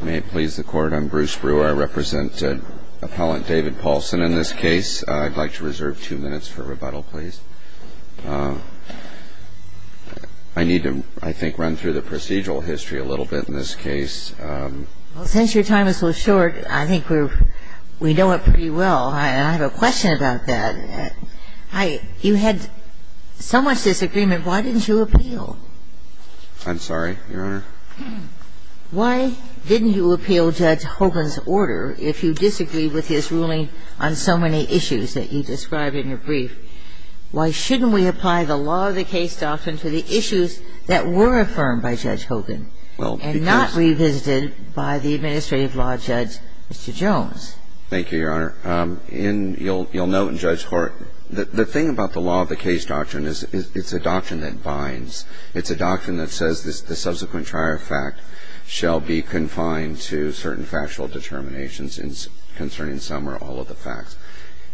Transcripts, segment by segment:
May it please the Court, I'm Bruce Brewer. I represent Appellant David Paulson in this case. I'd like to reserve two minutes for rebuttal, please. I need to, I think, run through the procedural history a little bit in this case. Well, since your time is so short, I think we know it pretty well. I have a question about that. You had so much disagreement, why didn't you appeal? I'm sorry, Your Honor? Why didn't you appeal Judge Hogan's order if you disagreed with his ruling on so many issues that you described in your brief? Why shouldn't we apply the law of the case doctrine to the issues that were affirmed by Judge Hogan and not revisited by the administrative law judge, Mr. Jones? Thank you, Your Honor. In, you'll note in Judge Horton, the thing about the law of the case doctrine is it's a doctrine that binds. It's a doctrine that says the subsequent trial fact shall be confined to certain factual determinations concerning some or all of the facts.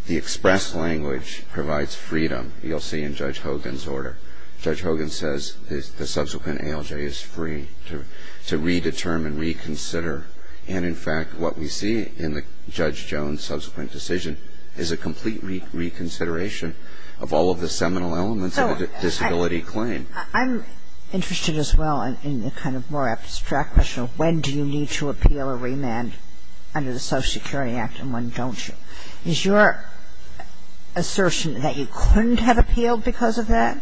The express language provides freedom, you'll see in Judge Hogan's order. Judge Hogan says the subsequent ALJ is free to redetermine, reconsider. And, in fact, what we see in Judge Jones' subsequent decision is a complete reconsideration of all of the seminal elements of a disability claim. I'm interested as well in the kind of more abstract question of when do you need to appeal or remand under the Social Security Act and when don't you. Is your assertion that you couldn't have appealed because of that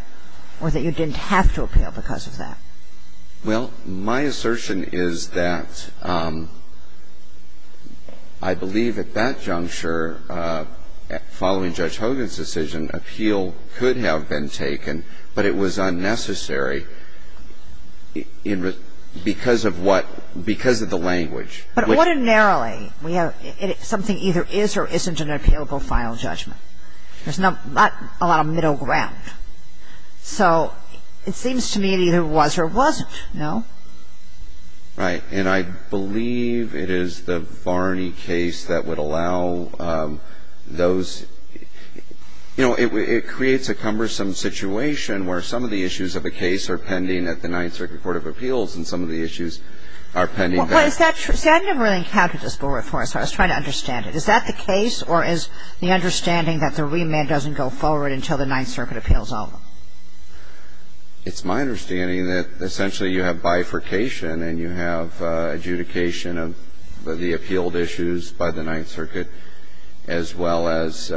or that you didn't have to appeal because of that? Well, my assertion is that I believe at that juncture, following Judge Hogan's decision, appeal could have been taken, but it was unnecessary because of what — because of the language. But ordinarily, we have — something either is or isn't an appealable final judgment. There's not a lot of middle ground. So it seems to me it either was or wasn't, no? Right. And I believe it is the Varney case that would allow those — you know, it creates a cumbersome situation where some of the issues of a case are pending at the Ninth Circuit Court of Appeals and some of the issues are pending there. Well, is that true? See, I've never really encountered this before, so I was trying to understand it. Is that the case or is the understanding that the remand doesn't go forward until the Ninth Circuit appeals all of them? It's my understanding that essentially you have bifurcation and you have adjudication of the appealed issues by the Ninth Circuit as well as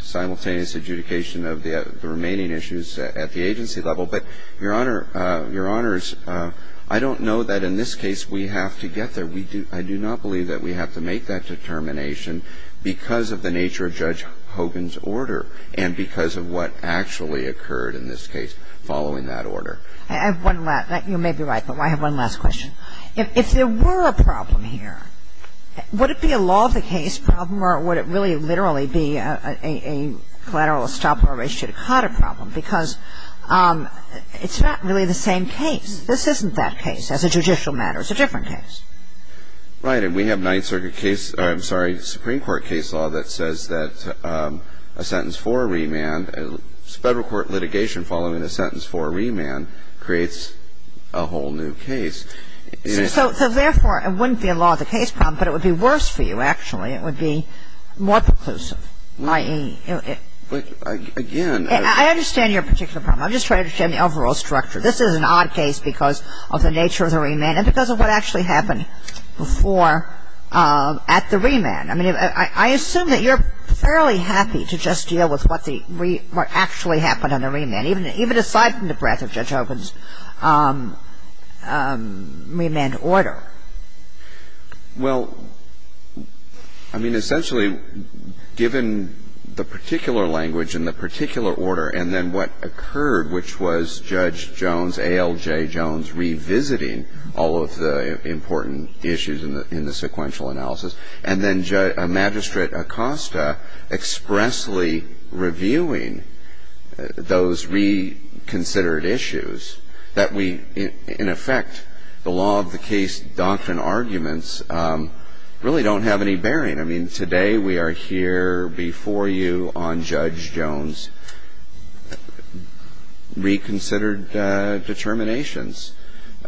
simultaneous adjudication of the remaining issues at the agency level. But, Your Honor, Your Honors, I don't know that in this case we have to get there. We do — I do not believe that we have to make that determination because of the nature of Judge Hogan's order and because of what actually occurred in this case following that order. I have one last — you may be right, but I have one last question. If there were a problem here, would it be a law of the case problem or would it really literally be a collateral estoppel ratio to COTA problem? Because it's not really the same case. This isn't that case. As a judicial matter, it's a different case. Right. And we have Ninth Circuit case — I'm sorry, Supreme Court case law that says that a sentence for a remand, federal court litigation following a sentence for a remand creates a whole new case. So therefore, it wouldn't be a law of the case problem, but it would be worse for you, actually. It would be more preclusive, i.e. But, again — I understand your particular problem. I'm just trying to understand the overall structure. This is an odd case because of the nature of the remand and because of what actually happened before at the remand. I mean, I assume that you're fairly happy to just deal with what the — what actually happened on the remand, even aside from the breadth of Judge Hogan's remand order. Well, I mean, essentially, given the particular language and the particular order and then what occurred, which was Judge Jones, ALJ Jones, revisiting all of the important issues in the sequential analysis, and then Magistrate Acosta expressly reviewing those reconsidered issues, that we — in effect, the law of the case doctrine arguments really don't have any bearing. I mean, today we are here before you on Judge Jones' reconsidered determinations.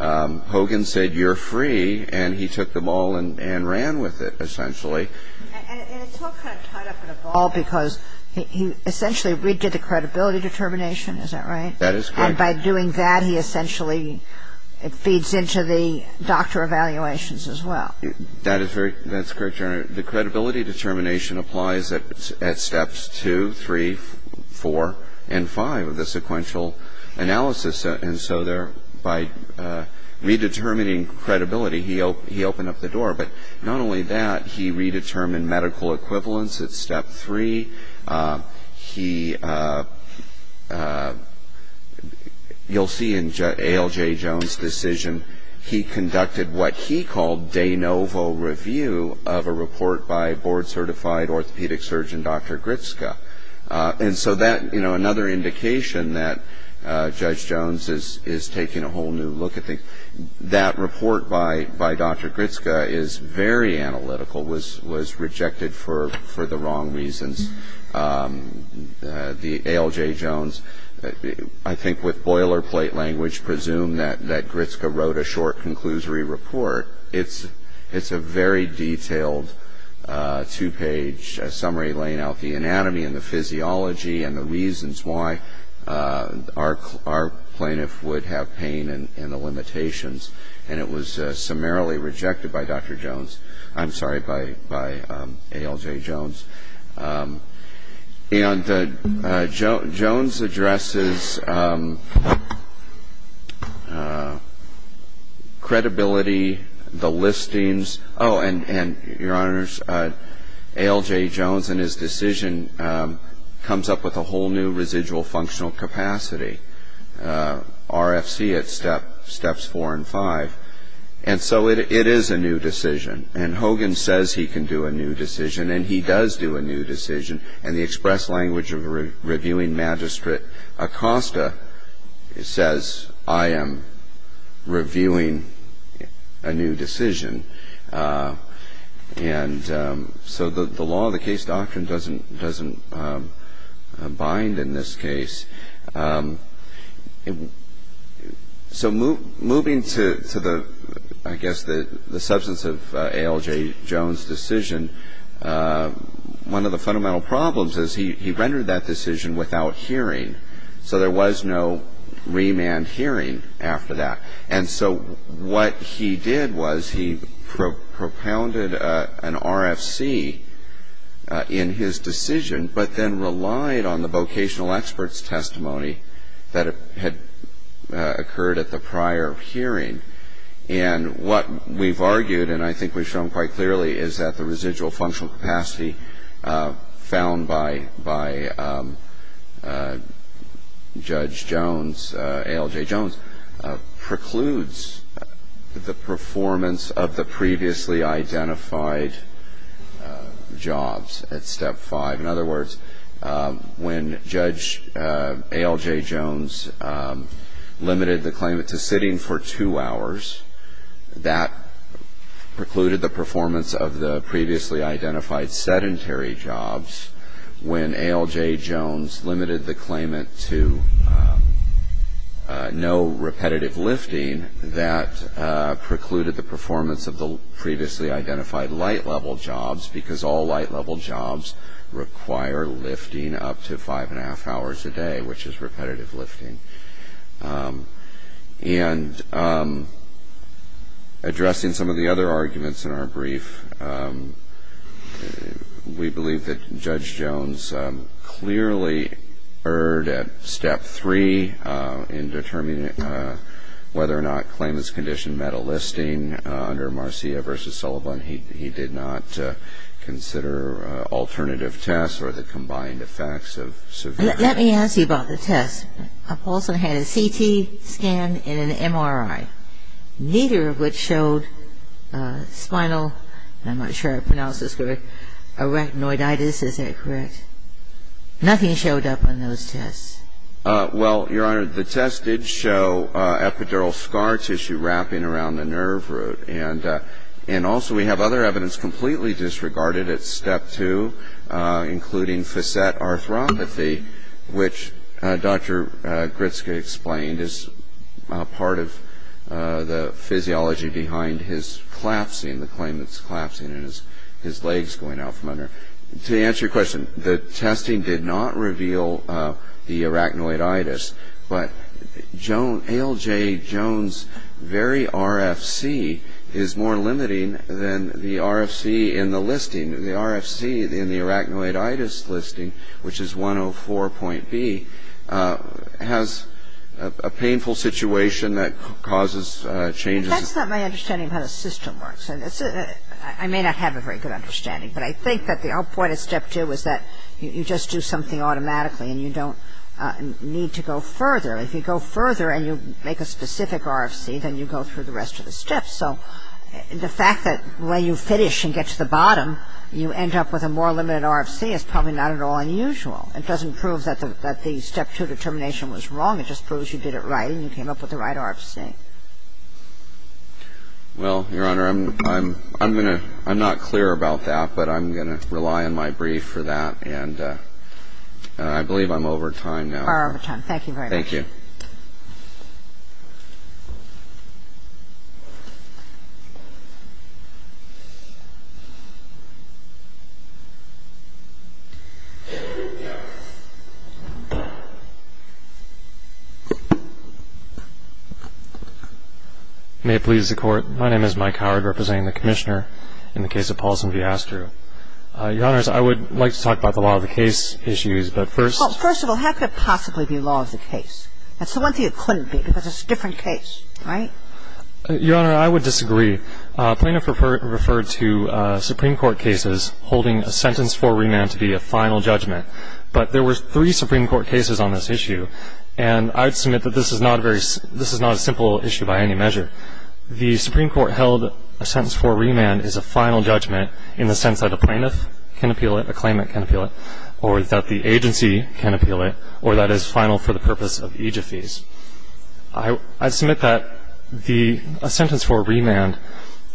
Hogan said you're free, and he took the ball and ran with it, essentially. And it's all kind of tied up in a ball because he essentially redid the credibility determination. Is that right? That is correct. And by doing that, he essentially feeds into the doctor evaluations as well. That is very — that's correct, Your Honor. The credibility determination applies at steps two, three, four, and five of the sequential analysis. And so there — by redetermining credibility, he opened up the door. But not only that, he redetermined medical equivalence at step three. He — you'll see in ALJ Jones' decision, he conducted what he called de novo review of a report by board-certified orthopedic surgeon Dr. Gritska. And so that — you know, another indication that Judge Jones is taking a whole new look at things. That report by Dr. Gritska is very analytical, was rejected for the wrong reasons. The ALJ Jones, I think with boilerplate language, presumed that Gritska wrote a short conclusory report. It's a very detailed two-page summary laying out the anatomy and the physiology and the And it was summarily rejected by Dr. Jones — I'm sorry, by ALJ Jones. And Jones addresses credibility, the listings — oh, and, Your Honors, ALJ Jones in his decision comes up with a whole new residual functional capacity. RFC at steps four and five. And so it is a new decision. And Hogan says he can do a new decision, and he does do a new decision. And the express language of reviewing Magistrate Acosta says, I am reviewing a new decision. And so the law of the case doctrine doesn't bind in this case. So moving to, I guess, the substance of ALJ Jones' decision, one of the fundamental problems is he rendered that decision without hearing. So there was no remand hearing after that. And so what he did was he propounded an RFC in his decision, but then relied on the vocational experts' testimony that had occurred at the prior hearing. And what we've argued, and I think we've shown quite clearly, is that the residual functional capacity found by Judge Jones, ALJ Jones, precludes the performance of the previously identified jobs at step five. In other words, when Judge ALJ Jones limited the claimant to sitting for two hours, that precluded the performance of the previously identified sedentary jobs. When ALJ Jones limited the claimant to no repetitive lifting, that precluded the performance of the previously identified light-level jobs, because all light-level jobs require lifting up to five and a half hours a day, which is repetitive lifting. And addressing some of the other arguments in our brief, we believe that Judge Jones clearly erred at step three in determining whether or not claimants' condition met a requirement. And also we have other evidence completely disregarded at step two, including facet arthropathy, which Dr. Gritske explained is part of the physiology behind his collapsing, the claimant's collapsing, and his legs going out from under. To answer your question, the testing did not reveal the arachnoiditis, but ALJ Jones' very RFC is more limiting than the RFC in the listing. The RFC in the arachnoiditis listing, which is 104.B, has a painful situation that causes changes. But that's not my understanding of how the system works. I may not have a very good understanding, but I think that our point at step two is that you just do something automatically and you don't need to go further. If you go further and you make a specific RFC, then you go through the rest of the steps. So the fact that when you finish and get to the bottom, you end up with a more limited RFC is probably not at all unusual. It doesn't prove that the step two determination was wrong. It just proves you did it right and you came up with the right RFC. Well, Your Honor, I'm going to ‑‑I'm not clear about that, but I'm going to rely on my brief for that. And I believe I'm over time now. Thank you very much. Thank you. May it please the Court. My name is Mike Howard representing the Commissioner in the case of Paulson v. Astru. Your Honors, I would like to talk about the law of the case issues, but first ‑‑ It's the one thing it couldn't be because it's a different case, right? Your Honor, I would disagree. Plaintiff referred to Supreme Court cases holding a sentence for remand to be a final judgment, but there were three Supreme Court cases on this issue, and I would submit that this is not a simple issue by any measure. The Supreme Court held a sentence for remand is a final judgment in the sense that a plaintiff can appeal it, a claimant can appeal it, or that the agency can appeal it, or that it's final for the purpose of aegyphes. I submit that a sentence for remand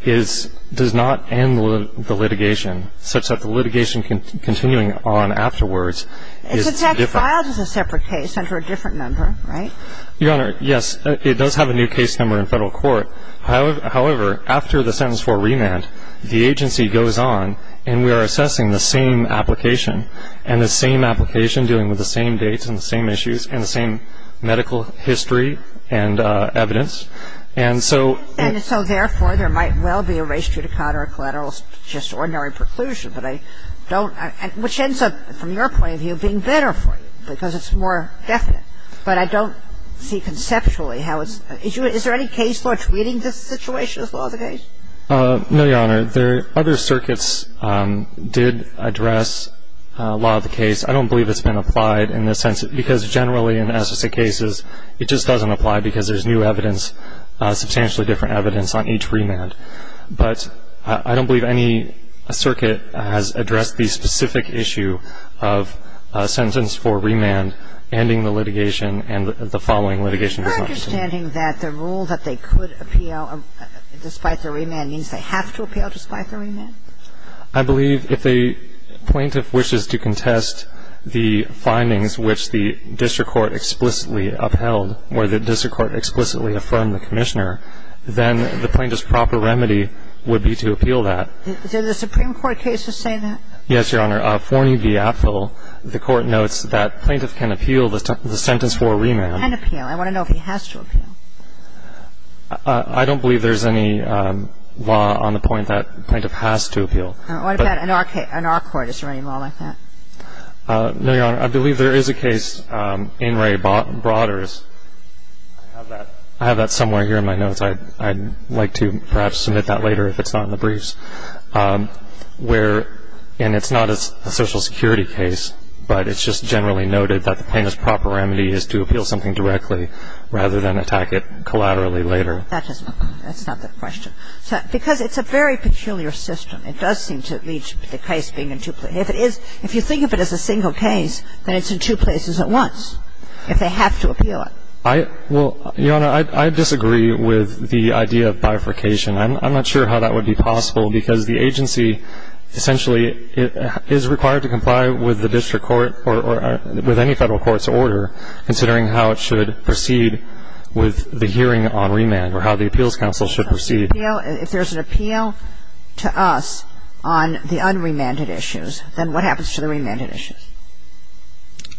does not end the litigation, such that the litigation continuing on afterwards is different. It's actually filed as a separate case under a different number, right? Your Honor, yes. It does have a new case number in federal court. However, after the sentence for remand, the agency goes on, and we are assessing the same application, and the same application dealing with the same dates and the same issues and the same medical history and evidence. And so therefore, there might well be a res judicata or collateral just ordinary preclusion, but I don't – which ends up, from your point of view, being better for you because it's more definite. But I don't see conceptually how it's – is there any case law treating this situation as law litigation? No, Your Honor. There – other circuits did address law of the case. I don't believe it's been applied in the sense – because generally in SSA cases, it just doesn't apply because there's new evidence, substantially different evidence on each remand. But I don't believe any circuit has addressed the specific issue of a sentence for remand ending the litigation and the following litigation. I'm just saying that the rule that they could appeal despite the remand means they have to appeal despite the remand? I believe if a plaintiff wishes to contest the findings which the district court explicitly upheld, where the district court explicitly affirmed the Commissioner, then the plaintiff's proper remedy would be to appeal that. Did the Supreme Court cases say that? Yes, Your Honor. Forney v. Apfel, the Court notes that plaintiff can appeal the sentence for remand. I want to know if he has to appeal. I don't believe there's any law on the point that plaintiff has to appeal. What about in our case? In our court, is there any law like that? No, Your Honor. I believe there is a case in Ray Broders. I have that somewhere here in my notes. I'd like to perhaps submit that later if it's not in the briefs. Where – and it's not a Social Security case, but it's just generally noted that the plaintiff's proper remedy is to appeal something directly rather than attack it collaterally later. That's not the question. Because it's a very peculiar system. It does seem to lead to the case being in two places. If it is – if you think of it as a single case, then it's in two places at once if they have to appeal it. I – well, Your Honor, I disagree with the idea of bifurcation. I'm not sure how that would be possible because the agency essentially is required to comply with the district court or with any federal court's order, considering how it should proceed with the hearing on remand or how the appeals council should proceed. If there's an appeal to us on the unremanded issues, then what happens to the remanded issues?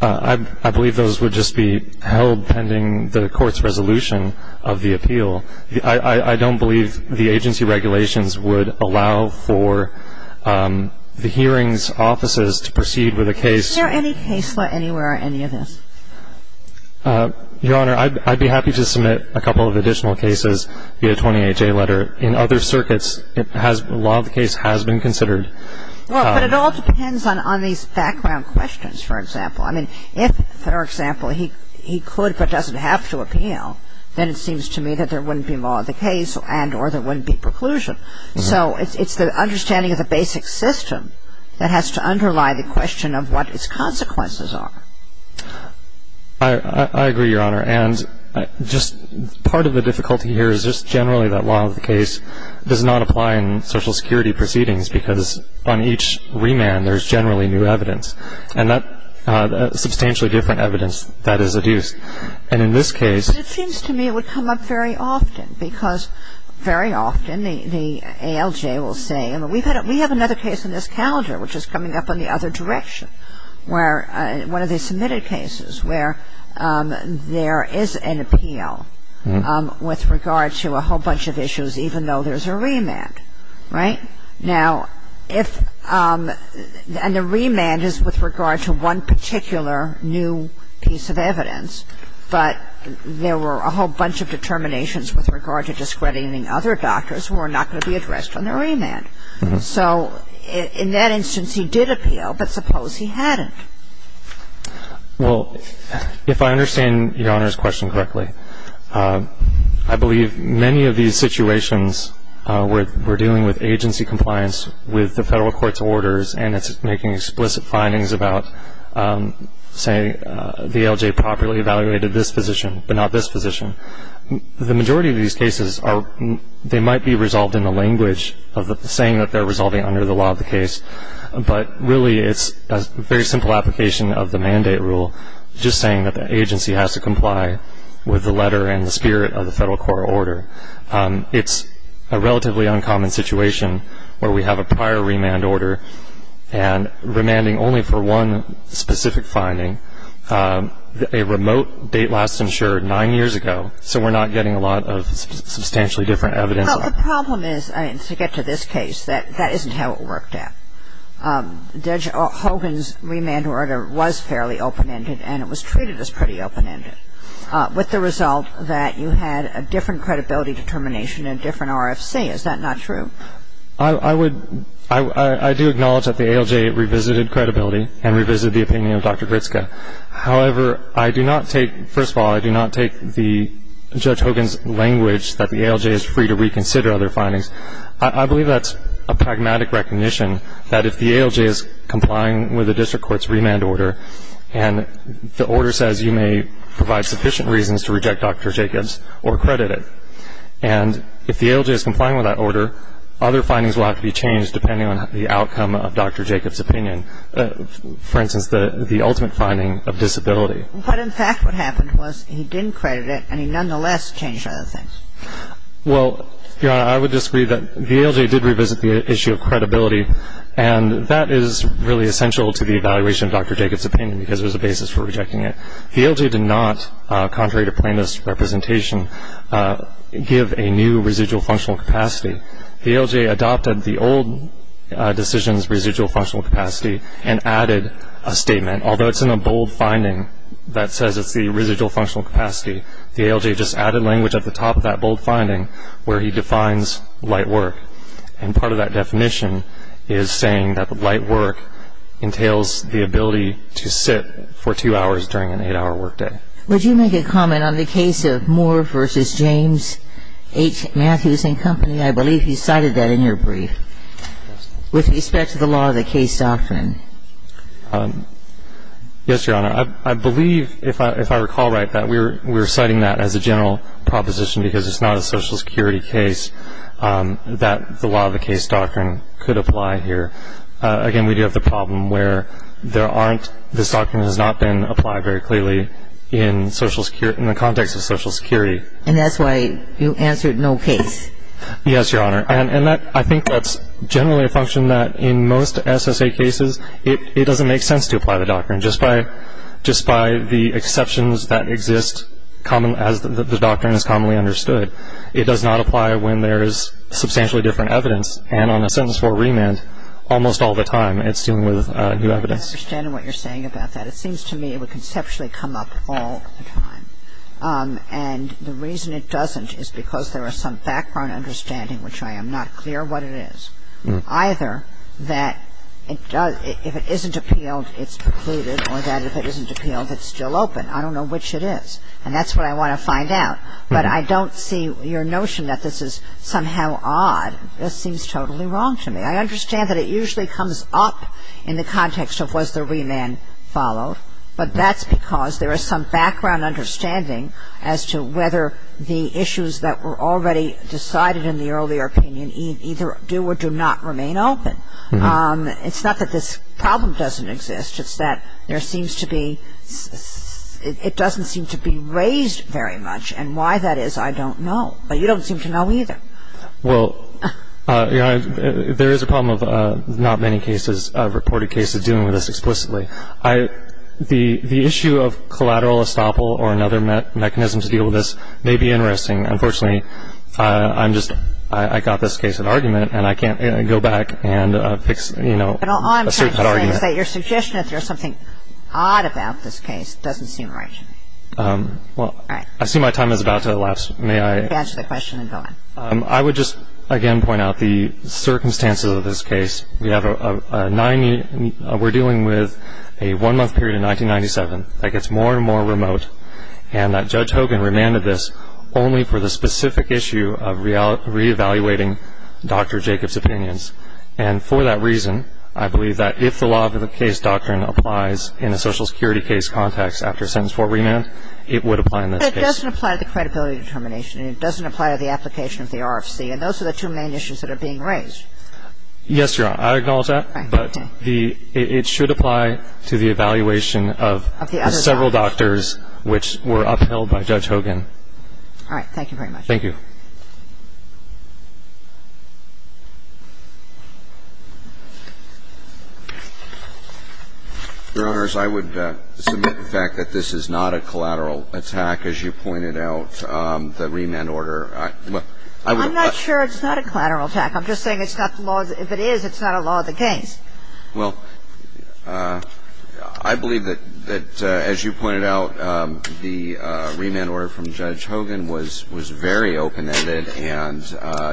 I believe those would just be held pending the court's resolution of the appeal. I don't believe the agency regulations would allow for the hearings' offices to proceed with a case. Is there any case law anywhere on any of this? Your Honor, I'd be happy to submit a couple of additional cases via a 28-J letter. In other circuits, it has – a lot of the case has been considered. Well, but it all depends on these background questions, for example. I mean, if, for example, he could but doesn't have to appeal, then it seems to me that there wouldn't be law of the case and or there wouldn't be preclusion. So it's the understanding of the basic system that has to underlie the question of what its consequences are. I agree, Your Honor. And just part of the difficulty here is just generally that law of the case does not apply in social security proceedings because on each remand there's generally new evidence, and that's substantially different evidence that is adduced. And in this case It seems to me it would come up very often because very often the ALJ will say, we have another case in this calendar which is coming up in the other direction where one of the submitted cases where there is an appeal with regard to a whole bunch of issues even though there's a remand. Right? Now, if, and the remand is with regard to one particular new piece of evidence, but there were a whole bunch of determinations with regard to discrediting other doctors who are not going to be addressed on the remand. So in that instance he did appeal, but suppose he hadn't. Well, if I understand Your Honor's question correctly, I believe many of these situations where we're dealing with agency compliance with the federal court's orders, and it's making explicit findings about saying the ALJ properly evaluated this physician but not this physician. The majority of these cases are, they might be resolved in the language of the saying that they're resolving under the law of the case, but really it's a very simple application of the mandate rule, just saying that the agency has to comply with the letter and the spirit of the federal court order. It's a relatively uncommon situation where we have a prior remand order and remanding only for one specific finding. A remote date last insured nine years ago, so we're not getting a lot of substantially different evidence. But the problem is, to get to this case, that isn't how it worked out. I do acknowledge that the ALJ revisited credibility and revisited the opinion of Dr. Gritske. However, I do not take, first of all, I do not take the Judge Hogan's language that the ALJ is free to reconsider other findings. I believe that's a pragmatic recognition that if the ALJ is free to reconsider if the ALJ is complying with the district court's remand order and the order says you may provide sufficient reasons to reject Dr. Jacobs or credit it, and if the ALJ is complying with that order, other findings will have to be changed depending on the outcome of Dr. Jacobs' opinion. For instance, the ultimate finding of disability. But in fact what happened was he didn't credit it and he nonetheless changed other things. Well, Your Honor, I would disagree that the ALJ did revisit the issue of credibility and that is really essential to the evaluation of Dr. Jacobs' opinion because it was a basis for rejecting it. The ALJ did not, contrary to plaintiff's representation, give a new residual functional capacity. The ALJ adopted the old decision's residual functional capacity and added a statement. Although it's in a bold finding that says it's the residual functional capacity, the ALJ just added language at the top of that bold finding where he defines light work. And part of that definition is saying that the light work entails the ability to sit for two hours during an eight-hour work day. Would you make a comment on the case of Moore v. James H. Matthews and Company? I believe he cited that in your brief with respect to the law of the case doctrine. Yes, Your Honor. I believe, if I recall right, that we're citing that as a general proposition because it's not a Social Security case that the law of the case doctrine could apply here. Again, we do have the problem where this doctrine has not been applied very clearly in the context of Social Security. And that's why you answered no case. Yes, Your Honor. And I think that's generally a function that in most SSA cases it doesn't make sense to apply the doctrine. Just by the exceptions that exist as the doctrine is commonly understood, it does not apply when there is substantially different evidence. And on a sentence for remand, almost all the time it's dealing with new evidence. I don't understand what you're saying about that. It seems to me it would conceptually come up all the time. And the reason it doesn't is because there is some background understanding, which I am not clear what it is, either that if it isn't appealed, it's precluded, or that if it isn't appealed, it's still open. I don't know which it is. And that's what I want to find out. But I don't see your notion that this is somehow odd. This seems totally wrong to me. I understand that it usually comes up in the context of was the remand followed, but that's because there is some background understanding as to whether the issues that were already decided in the earlier opinion either do or do not remain open. It's not that this problem doesn't exist. It's that there seems to be ‑‑ it doesn't seem to be raised very much. And why that is, I don't know. But you don't seem to know either. Well, there is a problem of not many cases, reported cases, dealing with this explicitly. The issue of collateral estoppel or another mechanism to deal with this may be interesting. Unfortunately, I'm just ‑‑ I got this case of argument, and I can't go back and fix, you know, a certain argument. But all I'm trying to say is that your suggestion that there's something odd about this case doesn't seem right to me. Well, I see my time is about to elapse. May I? Answer the question and go on. I would just, again, point out the circumstances of this case. We have a 90 ‑‑ we're dealing with a one-month period in 1997 that gets more and more remote, and that Judge Hogan remanded this only for the specific issue of reevaluating Dr. Jacobs' opinions. And for that reason, I believe that if the law of the case doctrine applies in a Social Security case context after a sentence for remand, it would apply in this case. But it doesn't apply to the credibility determination. It doesn't apply to the application of the RFC. And those are the two main issues that are being raised. Yes, Your Honor, I acknowledge that. Okay. But the ‑‑ it should apply to the evaluation of the several doctors which were upheld by Judge Hogan. All right. Thank you very much. Thank you. Your Honors, I would submit the fact that this is not a collateral attack, as you pointed out, the remand order. I'm not sure it's not a collateral attack. I'm just saying it's not the law ‑‑ if it is, it's not a law of the case. Well, I believe that, as you pointed out, the remand order from Judge Hogan was very open-ended and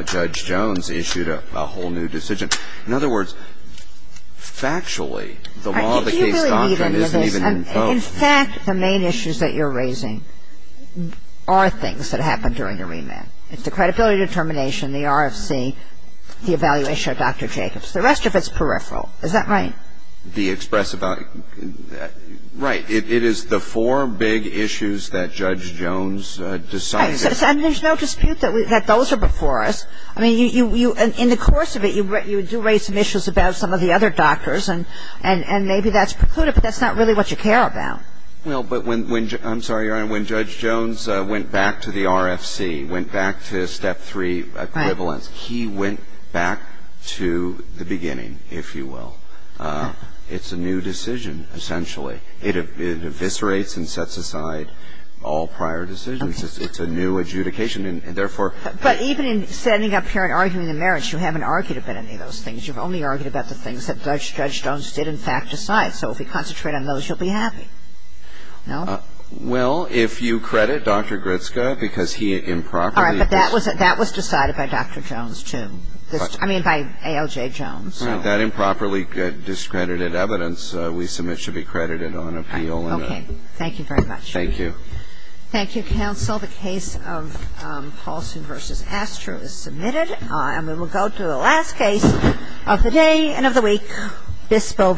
Judge Jones issued a whole new decision. In other words, factually, the law of the case doctrine isn't even imposed. In fact, the main issues that you're raising are things that happen during a remand. It's the credibility determination, the RFC, the evaluation of Dr. Jacobs. The rest of it's peripheral. Is that right? The expressive ‑‑ right. It is the four big issues that Judge Jones decided. Right. And there's no dispute that those are before us. I mean, you ‑‑ in the course of it, you do raise some issues about some of the other doctors, and maybe that's precluded, but that's not really what you care about. Well, but when ‑‑ I'm sorry, Your Honor, when Judge Jones went back to the RFC, went back to step three equivalence, he went back to the beginning, if you will. It's a new decision, essentially. It eviscerates and sets aside all prior decisions. It's a new adjudication, and therefore ‑‑ But even in standing up here and arguing the merits, you haven't argued about any of those things. You've only argued about the things that Judge Jones did in fact decide. So if we concentrate on those, you'll be happy. No? Well, if you credit Dr. Gritzka, because he improperly ‑‑ All right. But that was decided by Dr. Jones, too. I mean, by ALJ Jones. That improperly discredited evidence we submit should be credited on appeal. Okay. Thank you very much. Thank you. Thank you, counsel. The case of Paulson v. Astro is submitted, and we will go to the last case of the day and of the week, Bispo v. Robertshaw v. Charles.